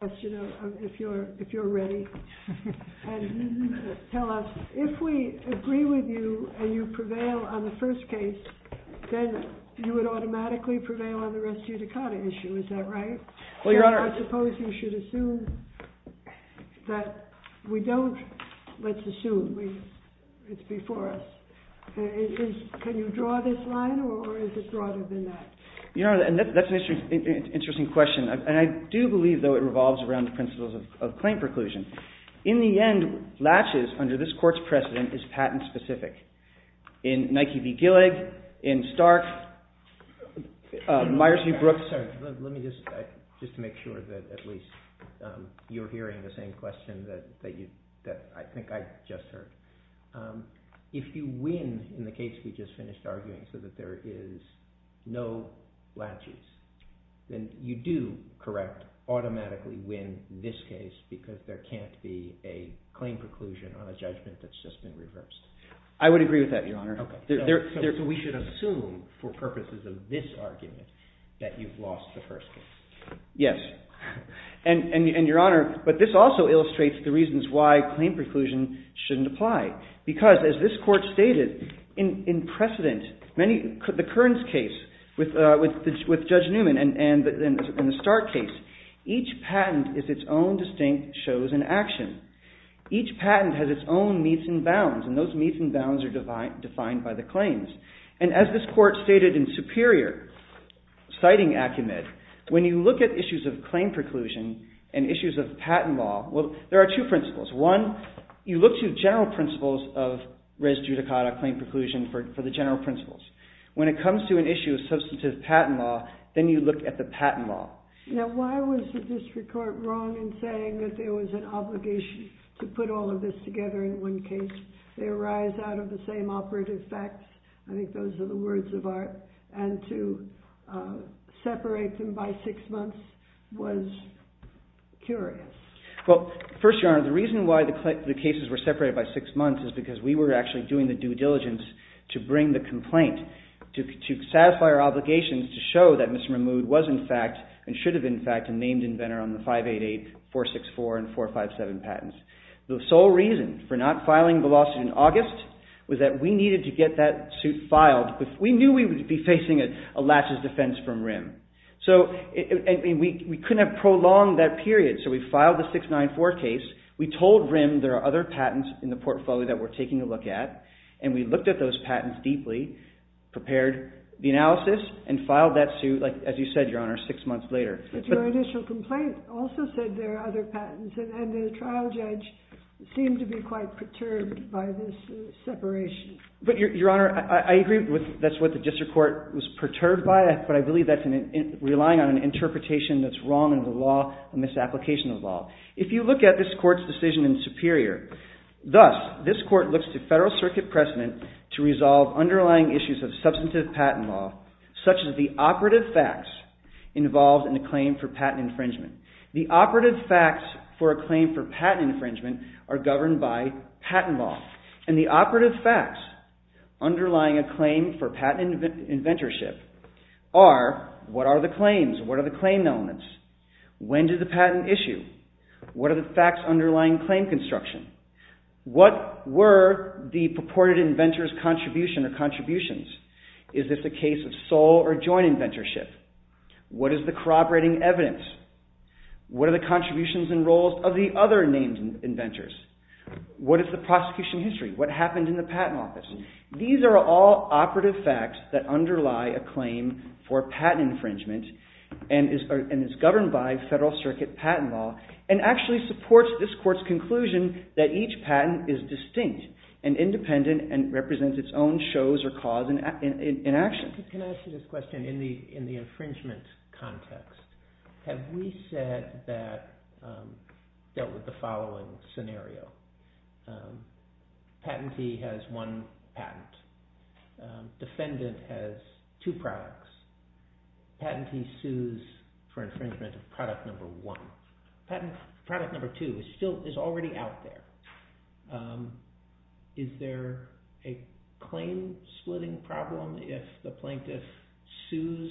If we agree with you and you prevail on the first case, then you would automatically prevail on the rest of the Dakota issue, is that right? I suppose you should assume that we don't. Let's assume it's before us. Can you draw this line or is it broader than that? That's an interesting question. I do believe, though, it revolves around the principles of claim preclusion. In the end, latches under this court's precedent is patent specific. In Nike v. Gillig, in Stark, Myers v. Brooks, let me just make sure that at least you're hearing the same question that I think I just heard. If you win in the case we just finished arguing so that there is no latches, then you do, correct, automatically win this case because there can't be a claim preclusion on a judgment that's just been reversed. I would agree with that, Your Honor. So we should assume for purposes of this argument that you've lost the first case. Yes. And, Your Honor, but this also illustrates the reasons why claim preclusion shouldn't apply because, as this court stated, in precedent, the Kearns case with Judge Newman and the Stark case, each patent is its own distinct shows and action. Each patent has its own meets and bounds, and those meets and bounds are defined by the claims. And as this court stated in Superior, citing Acumit, when you look at issues of claim preclusion and issues of patent law, well, there are two principles. One, you look to general principles of res judicata, claim preclusion, for the general principles. When it comes to an issue of substantive patent law, then you look at the patent law. Now, why was the district court wrong in saying that there was an obligation to put all of this together in one case? They arise out of the same operative facts. I think those are the words of art. And to separate them by six months was curious. Well, first, Your Honor, the reason why the cases were separated by six months is because we were actually doing the due diligence to bring the complaint to satisfy our obligations to show that Mr. Mahmoud was, in fact, and should have been, in fact, a named inventor on the 588, 464, and 457 patents. The sole reason for not filing the lawsuit in August was that we needed to get that suit filed. We knew we would be facing a last defense from RIM. So we couldn't have prolonged that period, so we filed the 694 case. We told RIM there are other patents in the portfolio that we're taking a look at, and we looked at those patents deeply, prepared the analysis, and filed that suit, as you said, Your Honor, six months later. But your initial complaint also said there are other patents, and the trial judge seemed to be quite perturbed by this separation. But, Your Honor, I agree that's what the district court was perturbed by, but I believe that's relying on an interpretation that's wrong in the law, a misapplication of the law. If you look at this court's decision in Superior, thus, this court looks to Federal Circuit precedent to resolve underlying issues of substantive patent law, such as the operative facts involved in a claim for patent infringement. The operative facts for a claim for patent infringement are governed by patent law, and the operative facts underlying a claim for patent inventorship are what are the claims, what are the claim elements, when did the patent issue, what are the facts underlying claim construction, what were the purported inventor's contribution or contributions, is this a case of sole or joint inventorship, what is the corroborating evidence, what are the contributions and roles of the other named inventors, what is the prosecution history, what happened in the patent office. These are all operative facts that underlie a claim for patent infringement and is governed by Federal Circuit patent law and actually supports this court's conclusion that each patent is distinct and independent and represents its own shows or cause in action. Can I ask you this question in the infringement context? Have we said that we dealt with the following scenario? Patentee has one patent. Defendant has two products. Patentee sues for infringement of product number one. Product number two is already out there. Is there a claim splitting problem if the plaintiff sues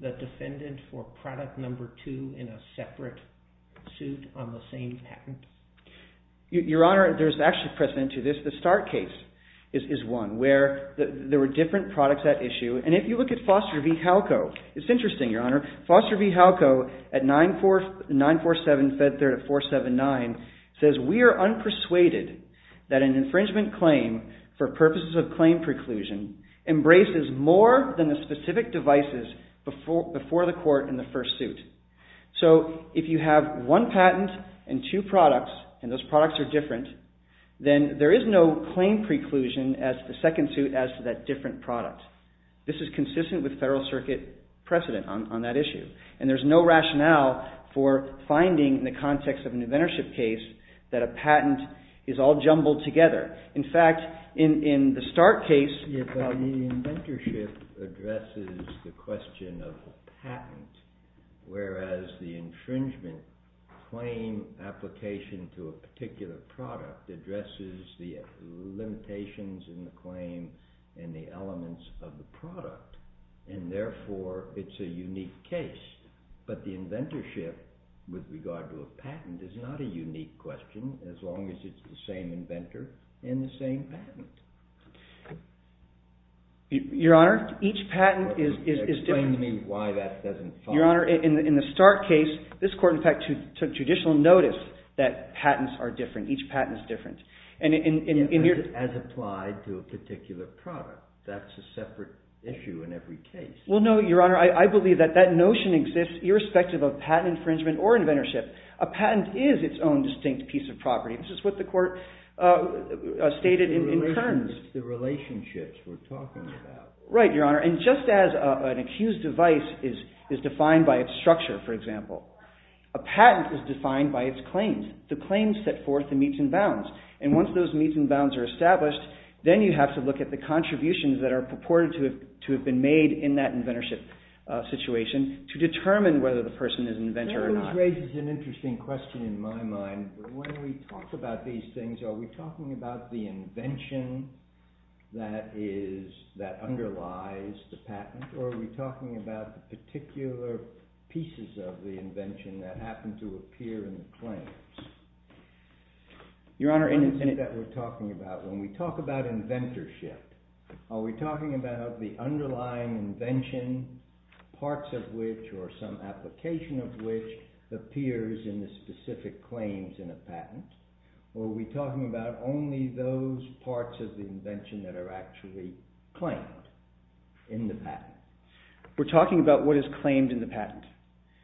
the defendant for product number two in a separate suit on the same patent? Your Honor, there is actually precedent to this. The start case is one where there were different products at issue. And if you look at Foster v. Halco, it's interesting, Your Honor. Foster v. Halco at 947 Fed Third at 479 says, We are unpersuaded that an infringement claim for purposes of claim preclusion embraces more than the specific devices before the court in the first suit. So if you have one patent and two products and those products are different, then there is no claim preclusion as to the second suit as to that different product. This is consistent with Federal Circuit precedent on that issue. And there is no rationale for finding in the context of an inventorship case that a patent is all jumbled together. In fact, in the start case, The inventorship addresses the question of patent, whereas the infringement claim application to a particular product addresses the limitations in the claim and the elements of the product. And therefore, it's a unique case. But the inventorship with regard to a patent is not a unique question, as long as it's the same inventor and the same patent. Your Honor, each patent is different. Your Honor, in the start case, this court, in fact, took judicial notice that patents are different. Each patent is different. As applied to a particular product. That's a separate issue in every case. Well, no, Your Honor. I believe that that notion exists irrespective of patent infringement or inventorship. A patent is its own distinct piece of property. This is what the court stated in terms. The relationships we're talking about. Right, Your Honor. And just as an accused device is defined by its structure, for example, a patent is defined by its claims. The claims set forth the meets and bounds. And once those meets and bounds are established, then you have to look at the contributions that are purported to have been made in that inventorship situation to determine whether the person is an inventor or not. That raises an interesting question in my mind. When we talk about these things, are we talking about the invention that underlies the patent, or are we talking about the particular pieces of the invention that happen to appear in the claims? Your Honor, in the sense that we're talking about, when we talk about inventorship, are we talking about the underlying invention, parts of which or some application of which appears in the specific claims in a patent, or are we talking about only those parts of the invention that are actually claimed in the patent? We're talking about what is claimed in the patent.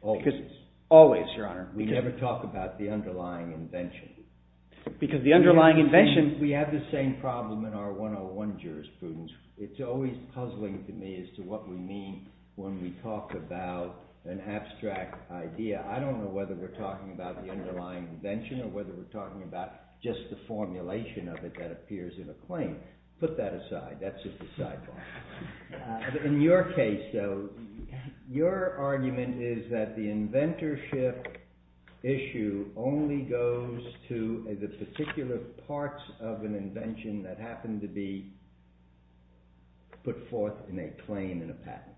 Always. Always, Your Honor. We never talk about the underlying invention. Because the underlying invention... We have the same problem in our 101 jurisprudence. It's always puzzling to me as to what we mean when we talk about an abstract idea. I don't know whether we're talking about the underlying invention or whether we're talking about just the formulation of it that appears in a claim. Put that aside. That's just a sidebar. In your case, though, your argument is that the inventorship issue only goes to the particular parts of an invention that happen to be put forth in a claim in a patent,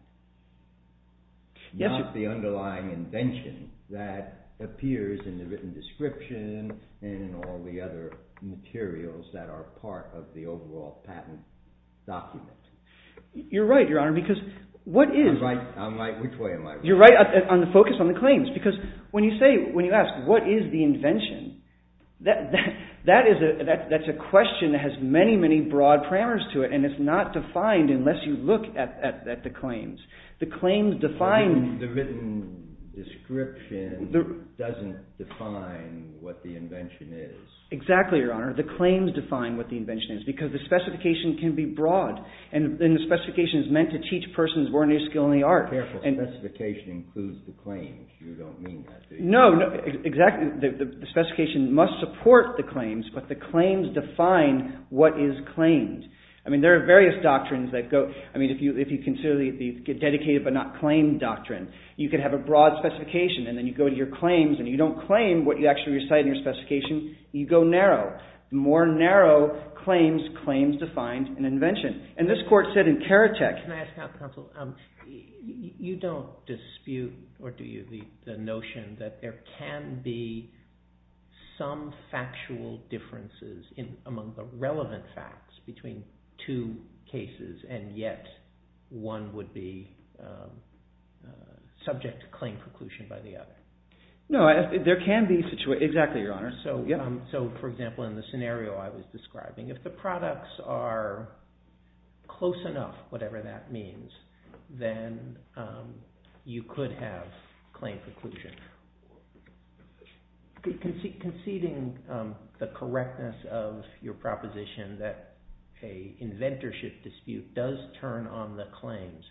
not the underlying invention that appears in the written description and in all the other materials that are part of the overall patent document. You're right, Your Honor. Because what is... I'm right? Which way am I? You're right. Focus on the claims. Because when you ask what is the invention, that's a question that has many, many broad parameters to it, and it's not defined unless you look at the claims. The claims define... The written description doesn't define what the invention is. Exactly, Your Honor. The claims define what the invention is because the specification can be broad, and the specification is meant to teach persons ordinary skill in the art. Careful. Specification includes the claims. You don't mean that, do you? No. Exactly. The specification must support the claims, but the claims define what is claimed. I mean, there are various doctrines that go... I mean, if you consider the dedicated but not claimed doctrine, you could have a broad specification, and then you go to your claims, and you don't claim what you actually recite in your specification. You go narrow. The more narrow claims, claims define an invention. And this court said in Karatek... Can I ask, Counsel? You don't dispute, or do you, the notion that there can be some factual differences among the relevant facts between two cases and yet one would be subject to claim preclusion by the other? No, there can be situations... Exactly, Your Honor. So, for example, in the scenario I was describing, if the products are close enough, whatever that means, then you could have claim preclusion. Conceding the correctness of your proposition that an inventorship dispute does turn on the claims,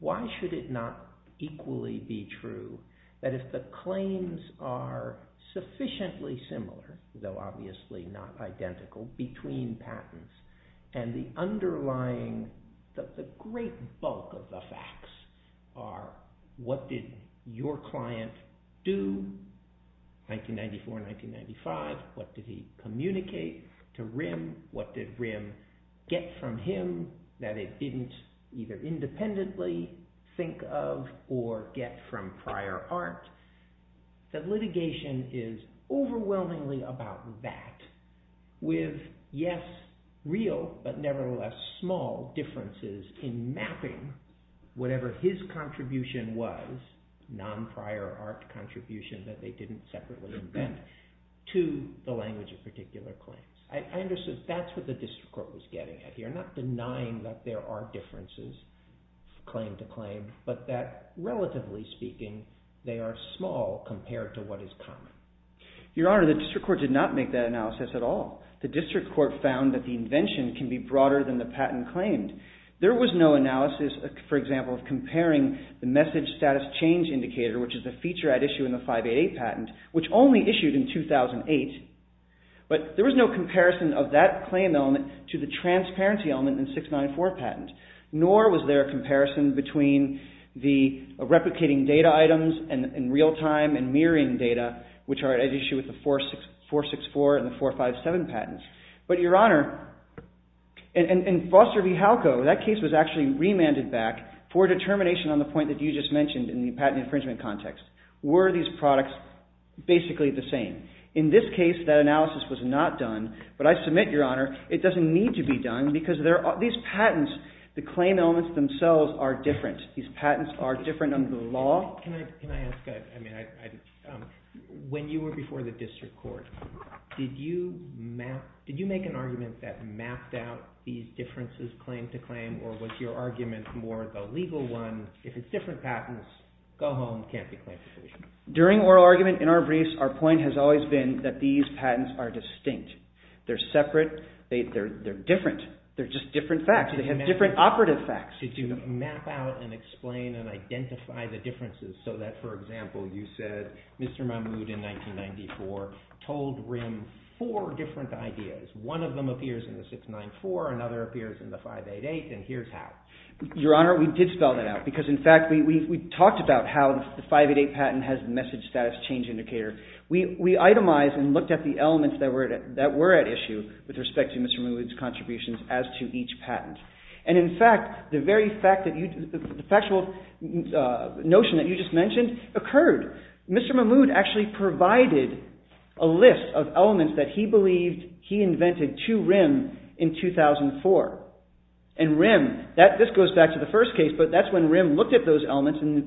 why should it not equally be true that if the claims are sufficiently similar, though obviously not identical, between patents, and the underlying... The great bulk of the facts are, what did your client do, 1994, 1995? What did he communicate to RIM? What did RIM get from him that it didn't either independently think of or get from prior art? The litigation is overwhelmingly about that with, yes, real but nevertheless small differences in mapping whatever his contribution was, non-prior art contribution that they didn't separately invent, to the language of particular claims. I understand that's what the district court was getting at here, not denying that there are differences claim to claim, but that, relatively speaking, they are small compared to what is common. Your Honor, the district court did not make that analysis at all. The district court found that the invention can be broader than the patent claimed. There was no analysis, for example, of comparing the message status change indicator, which is a feature at issue in the 588 patent, which only issued in 2008, but there was no comparison of that claim element to the transparency element in 694 patent, nor was there a comparison between the replicating data items in real time and mirroring data, which are at issue with the 464 and the 457 patents. But, Your Honor, in Foster v. Halco, that case was actually remanded back for determination on the point that you just mentioned in the patent infringement context. Were these products basically the same? In this case, that analysis was not done, but I submit, Your Honor, it doesn't need to be done because these patents, the claim elements themselves, are different. These patents are different under the law. Can I ask a... When you were before the district court, did you make an argument that mapped out these differences claim to claim, or was your argument more the legal one? If it's different patents, go home, can't be claimed. During oral argument in our briefs, our point has always been that these patents are distinct. They're separate. They're different. They're just different facts. They have different operative facts. Did you map out and explain and identify the differences so that, for example, you said Mr. Mahmoud in 1994 told RIM four different ideas. One of them appears in the 694, another appears in the 588, and here's how. Your Honor, we did spell that out because, in fact, we talked about how the 588 patent has message status change indicator. We itemized and looked at the elements that were at issue with respect to Mr. Mahmoud's contributions as to each patent. And, in fact, the very fact that you... the factual notion that you just mentioned occurred. Mr. Mahmoud actually provided a list of elements that he believed he invented to RIM in 2004. And RIM, this goes back to the first case, but that's when RIM looked at those elements and the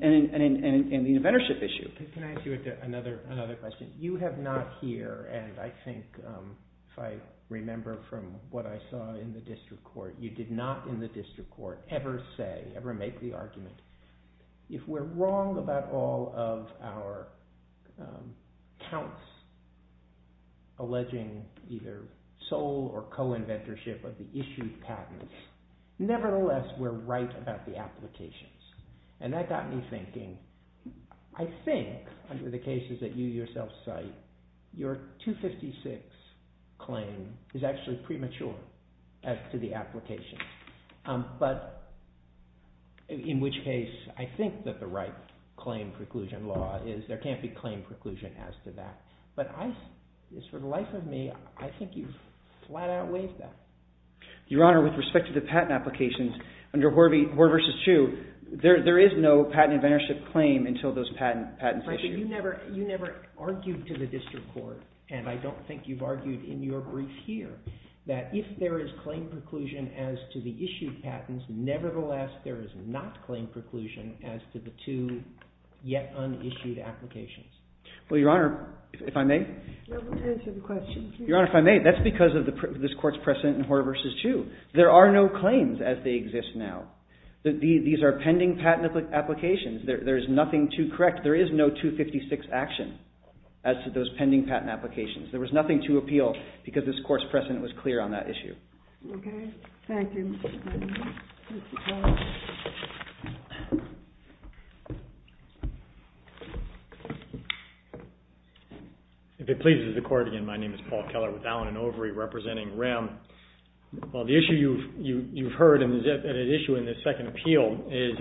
inventorship issue. Can I ask you another question? You have not here, and I think if I remember from what I saw in the district court, you did not in the district court ever say, ever make the argument, if we're wrong about all of our counts alleging either sole or co-inventorship of the issued patents, nevertheless, we're right about the applications. And that got me thinking, I think, under the cases that you yourself cite, your 256 claim is actually premature as to the applications. But, in which case, I think that the right claim preclusion law is there can't be claim preclusion as to that. But, for the life of me, I think you flat out waived that. Your Honor, with respect to the patent applications, under Hoare v. Chu, there is no patent inventorship claim until those patents are issued. You never argued to the district court, and I don't think you've argued in your brief here, that if there is claim preclusion as to the issued patents, nevertheless, there is not claim preclusion as to the two yet-unissued applications. Well, Your Honor, if I may? Answer the question, please. Your Honor, if I may, that's because of this court's precedent in Hoare v. Chu. There are no claims as they exist now. These are pending patent applications. There is nothing to correct. There is no 256 action as to those pending patent applications. There was nothing to appeal because this court's precedent was clear on that issue. Okay. Thank you, Mr. McNamara. If it pleases the Court again, my name is Paul Keller with Allen & Overy, representing RIM. The issue you've heard and an issue in this second appeal is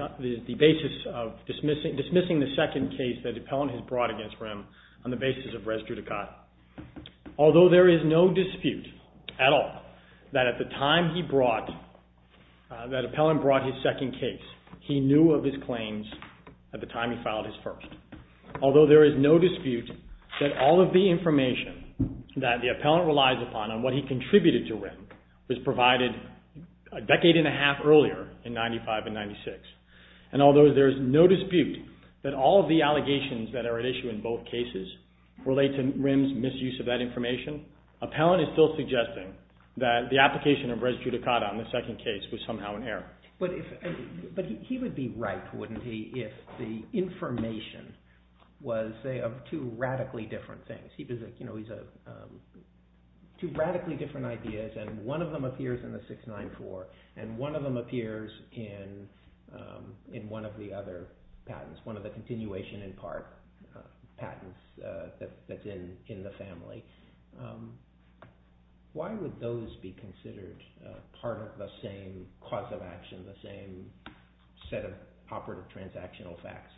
the basis of dismissing the second case that the appellant has brought against RIM on the basis of res judicat. Although there is no dispute at all that at the time he brought, that appellant brought his second case, he knew of his claims at the time he filed his first. Although there is no dispute that all of the information that the appellant relies upon on what he contributed to RIM was provided a decade and a half earlier in 1995 and 1996. And although there is no dispute that all of the allegations that are at issue in both cases relate to RIM's misuse of that information, appellant is still suggesting that the application of res judicat on the second case was somehow in error. But he would be right, wouldn't he, if the information was, say, of two radically different things. Two radically different ideas and one of them appears in the 694 and one of them appears in one of the other patents, one of the continuation in part patents that's in the family. Why would those be considered part of the same cause of action, the same set of operative transactional facts?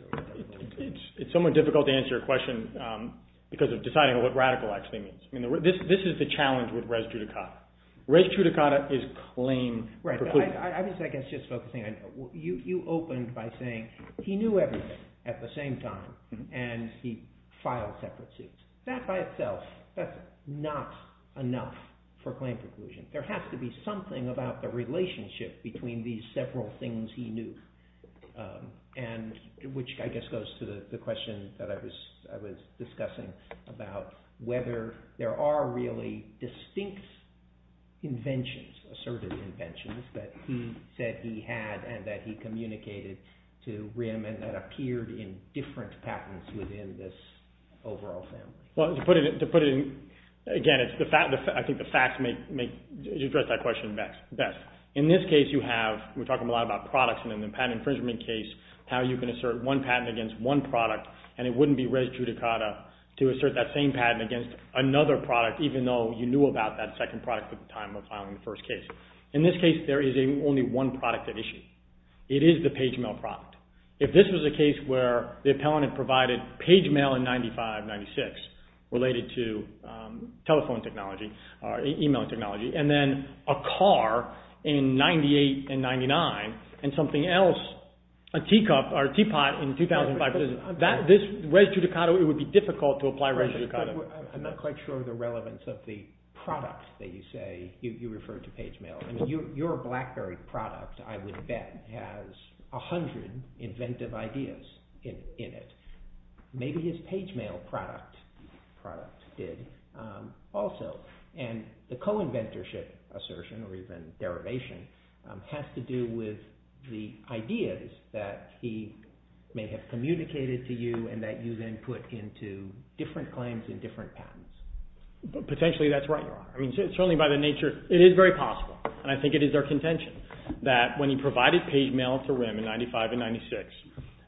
It's somewhat difficult to answer your question because of deciding what radical actually means. This is the challenge with res judicata. Res judicata is claim preclusion. I guess just focusing on, you opened by saying he knew everything at the same time and he filed separate suits. That by itself, that's not enough for claim preclusion. There has to be something about the relationship between these several things he knew which I guess goes to the question that I was discussing about whether there are really distinct inventions, assertive inventions that he said he had and that he communicated to RIM and that appeared in different patents within this overall family. To put it in, again, I think the facts address that question best. In this case, you have, we're talking a lot about products and in the patent infringement case, how you can assert one patent against one product and it wouldn't be res judicata to assert that same patent against another product even though you knew about that second product at the time of filing the first case. In this case, there is only one product at issue. It is the page mail product. If this was a case where the appellant had provided page mail in 95, 96 related to telephone technology or email technology and then a car in 98 and 99 and something else, a teapot in 2005. Res judicata, it would be difficult to apply res judicata. I'm not quite sure of the relevance of the product that you say you refer to page mail. Your BlackBerry product, I would bet, has 100 inventive ideas in it. Maybe his page mail product did also and the co-inventorship assertion or even derivation has to do with the ideas that he may have communicated to you and that you then put into different claims and different patents. Potentially, that's right, Your Honor. Certainly by the nature, it is very possible and I think it is our contention that when he provided page mail to RIM in 95 and 96,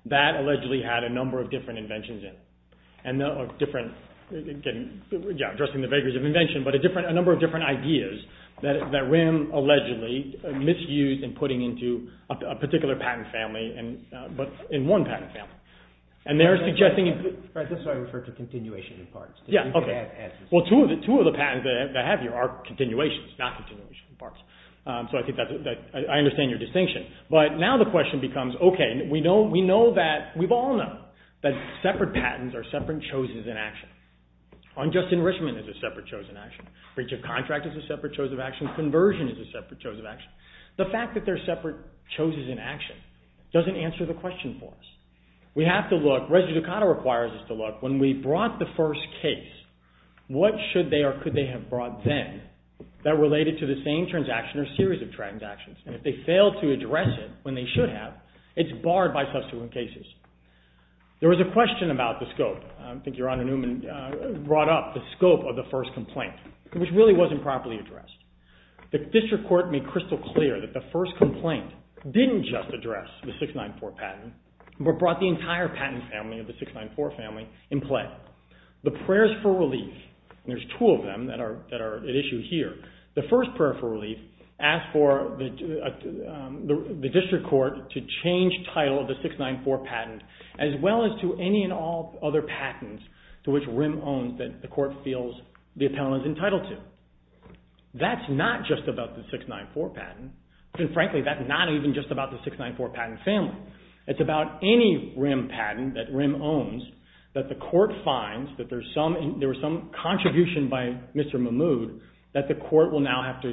that allegedly had a number of different inventions in it and addressing the vagaries of invention but a number of different ideas that RIM allegedly misused in putting into a particular patent family but in one patent family. And they're suggesting... Right, that's why I referred to continuation of parts. Yeah, okay. Well, two of the patents that I have here are continuations, not continuation of parts. So I think that's... I understand your distinction. But now the question becomes, okay, we know that... We've all known that separate patents are separate chosens in action. Unjust enrichment is a separate chosen action. Breach of contract is a separate chosen action. Conversion is a separate chosen action. The fact that they're separate chosens in action doesn't answer the question for us. We have to look... Resolucata requires us to look. When we brought the first case, what should they or could they have brought then that related to the same transaction or series of transactions? And if they fail to address it when they should have, it's barred by subsequent cases. There was a question about the scope. I think Your Honor Newman brought up the scope of the first complaint which really wasn't properly addressed. The district court made crystal clear that the first complaint didn't just address the 694 patent but brought the entire patent family of the 694 family in play. The prayers for relief, and there's two of them that are at issue here, the first prayer for relief asked for the district court to change title of the 694 patent as well as to any and all other patents to which RIM owns that the court feels the appellant is entitled to. That's not just about the 694 patent. And frankly, that's not even just about the 694 patent family. It's about any RIM patent that RIM owns that the court finds that there was some contribution by Mr. Mahmood that the court will now have to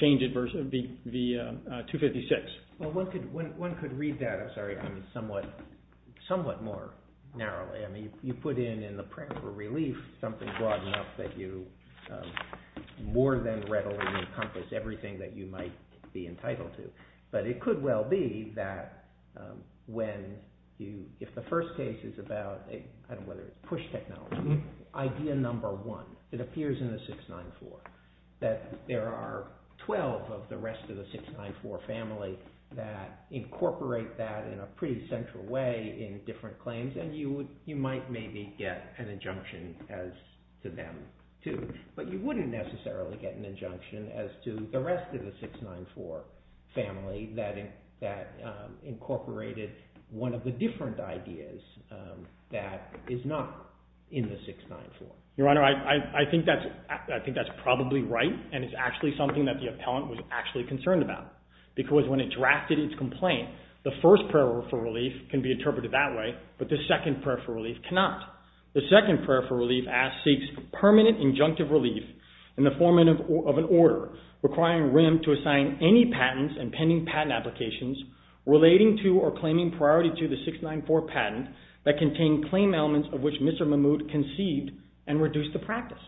change it versus the 256. Well, one could read that somewhat more narrowly. I mean, you put in in the prayer for relief something broad enough that you more than readily encompass everything that you might be entitled to. But it could well be that if the first case is about push technology, idea number one, it appears in the 694, that there are 12 of the rest of the 694 family that incorporate that in a pretty central way in different claims and you might maybe get an injunction as to them too. But you wouldn't necessarily get an injunction as to the rest of the 694 family that incorporated one of the different ideas that is not in the 694. Your Honor, I think that's probably right and it's actually something that the appellant was actually concerned about because when it drafted its complaint, the first prayer for relief can be interpreted that way, but the second prayer for relief cannot. The second prayer for relief seeks permanent injunctive relief in the form of an order requiring RIM to assign any patents and pending patent applications relating to or claiming priority to the 694 patent that contain claim elements of which Mr. Mahmoud conceived and reduced the practice.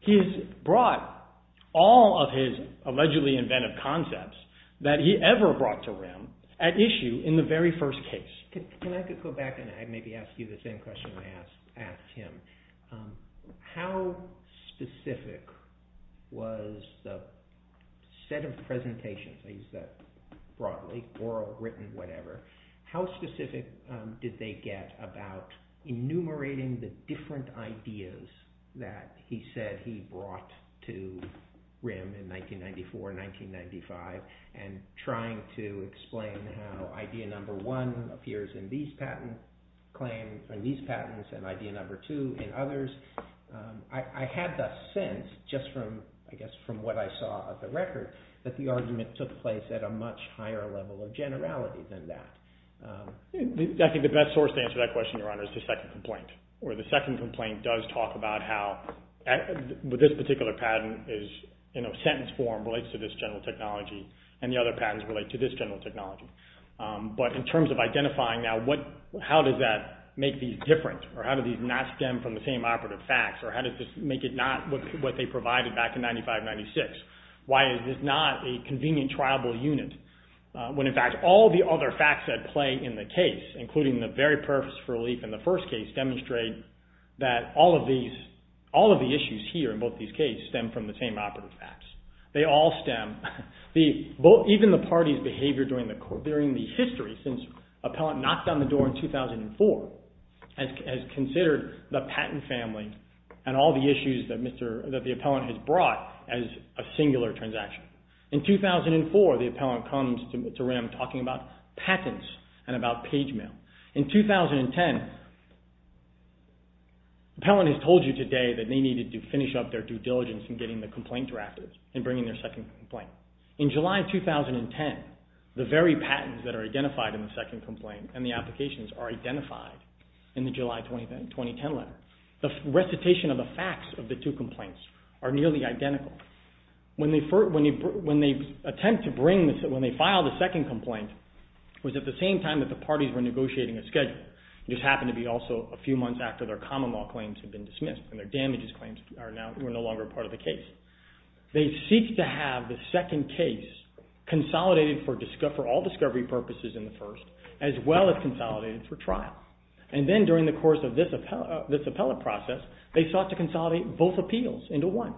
He has brought all of his allegedly inventive concepts that he ever brought to RIM at issue in the very first case. Can I go back and maybe ask you the same question I asked him? How specific was the set of presentations, I use that broadly, oral, written, whatever, how specific did they get about enumerating the different ideas that he said he brought to RIM in 1994, 1995 and trying to explain how idea number one appears in these patents and idea number two in others? I had the sense just from what I saw of the record that the argument took place at a much higher level of generality than that. I think the best source to answer that question is the second complaint where the second complaint does talk about how this particular patent in a sentence form relates to this general technology and the other patents relate to this general technology. But in terms of identifying now how does that make these different or how do these not stem from the same operative facts or how does this make it not what they provided back in 1995, 1996? Why is this not a convenient triable unit when in fact all the other facts that play in the case including the very purpose for relief in the first case demonstrate that all of these, all of the issues here in both these cases stem from the same operative facts. They all stem, even the parties behavior during the history since Appellant knocked on the door in 2004 and has considered the patent family and all the issues that the Appellant has brought as a singular transaction. In 2004, the Appellant comes to RIM talking about patents and about page mail. In 2010, Appellant has told you today that they needed to finish up their due diligence in getting the complaint drafted and bringing their second complaint. In July 2010, the very patents that are identified in the second complaint and the applications are identified in the July 2010 letter. The recitation of the facts of the two complaints are nearly identical. When they attempt to bring, when they file the second complaint, it was at the same time that the parties were negotiating a schedule. It just happened to be also a few months after their common law claims had been dismissed and their damages claims were no longer part of the case. They seek to have the second case consolidated for all discovery purposes in the first as well as consolidated for trial. And then during the course of this appellate process, they sought to consolidate both appeals into one.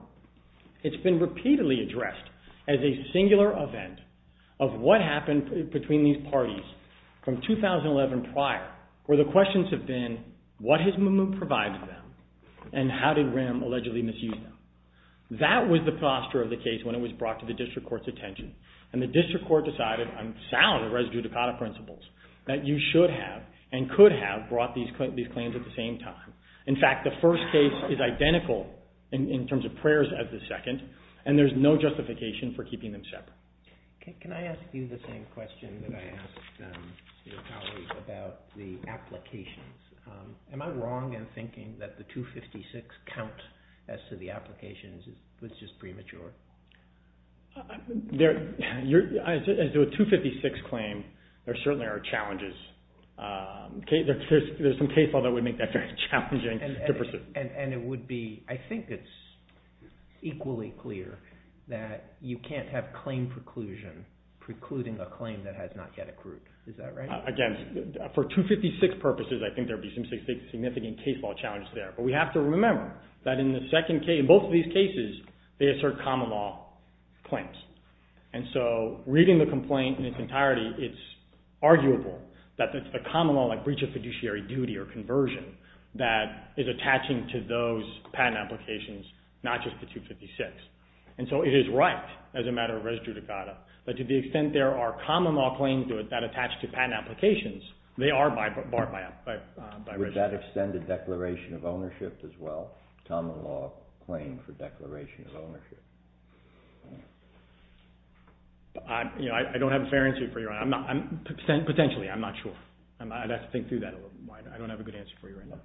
It's been repeatedly addressed as a singular event of what happened between these parties from 2011 prior where the questions have been what has Mahmoud provided them and how did RIM allegedly misuse them. That was the posture of the case when it was brought to the District Court's attention and the District Court decided on sound res judicata principles that you should have and could have brought these claims at the same time. In fact, the first case is identical in terms of prayers as the second and there's no justification for keeping them separate. Can I ask you the same question that I asked Mr. Talley about the applications? Am I wrong in thinking that the 256 count as to the applications was just premature? As to a 256 claim there certainly are challenges. There's some case law that would make that very challenging to pursue. And it would be I think it's equally clear that you can't have claim preclusion precluding a claim that has not yet accrued. Is that right? Again, for 256 purposes I think there would be some significant case law challenges there but we have to remember that in both of these cases they assert common law claims. And so reading the complaint in its entirety it's arguable that it's the common law like breach of fiduciary duty or conversion that is attaching to those patent applications not just the 256. And so it is right as a matter of res judicata that to the extent there are common law claims that attach to patent applications they are barred by res judicata. Would that extend the declaration of ownership as well? Common law claim for declaration of ownership. I don't have a fair answer for you, Your Honor. Potentially. I'm not sure. I'd have to think through that a little bit more. I don't have a good answer for you right now.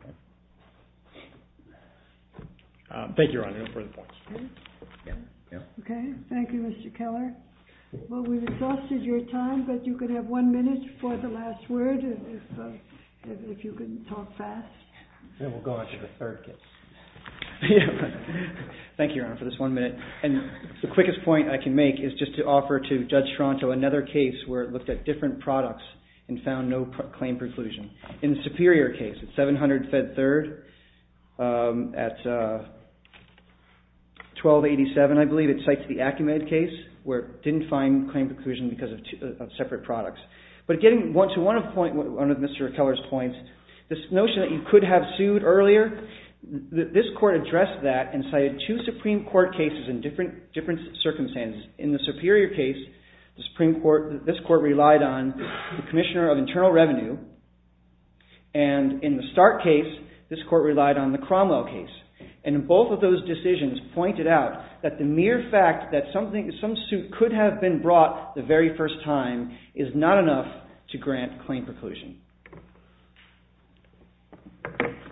Thank you, Your Honor. No further points. Okay. Thank you, Mr. Keller. Well, we've exhausted your time but you can have one minute for the last word if you can talk fast. Then we'll go on to the third case. Thank you, Your Honor for this one minute. And the quickest point I can make is just to offer to Judge Toronto another case where it looked at different products and found no claim preclusion. In the superior case at 700 Fed Third at 1287, I believe, it cites the Acumed case where it didn't find claim preclusion because of separate products. But getting to one point under Mr. Keller's point, this notion that you could have sued earlier this court addressed that and cited two Supreme Court cases in different circumstances. In the superior case, this court relied on the Commissioner of Internal Revenue and in the Stark case, this court relied on the Cromwell case. And both of those decisions pointed out that the mere fact that some suit could have been brought the very first time is not enough to grant claim preclusion.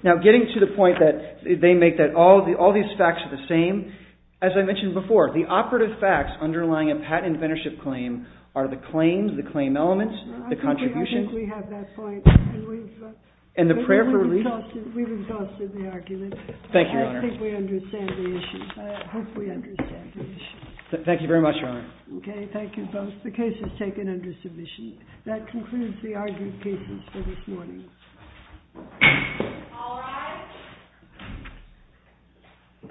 Now getting to the point that they make that all these facts are the same, as I mentioned before, the operative facts underlying a patent and mentorship claim are the claims, the claim elements, the contribution. I think we have that point. And the prayer for relief. We've exhausted the argument. Thank you, Your Honor. I think we understand the issue. I hope we understand the issue. Thank you very much, Your Honor. Okay, thank you both. The case is taken under submission. That concludes the argued pieces for this morning.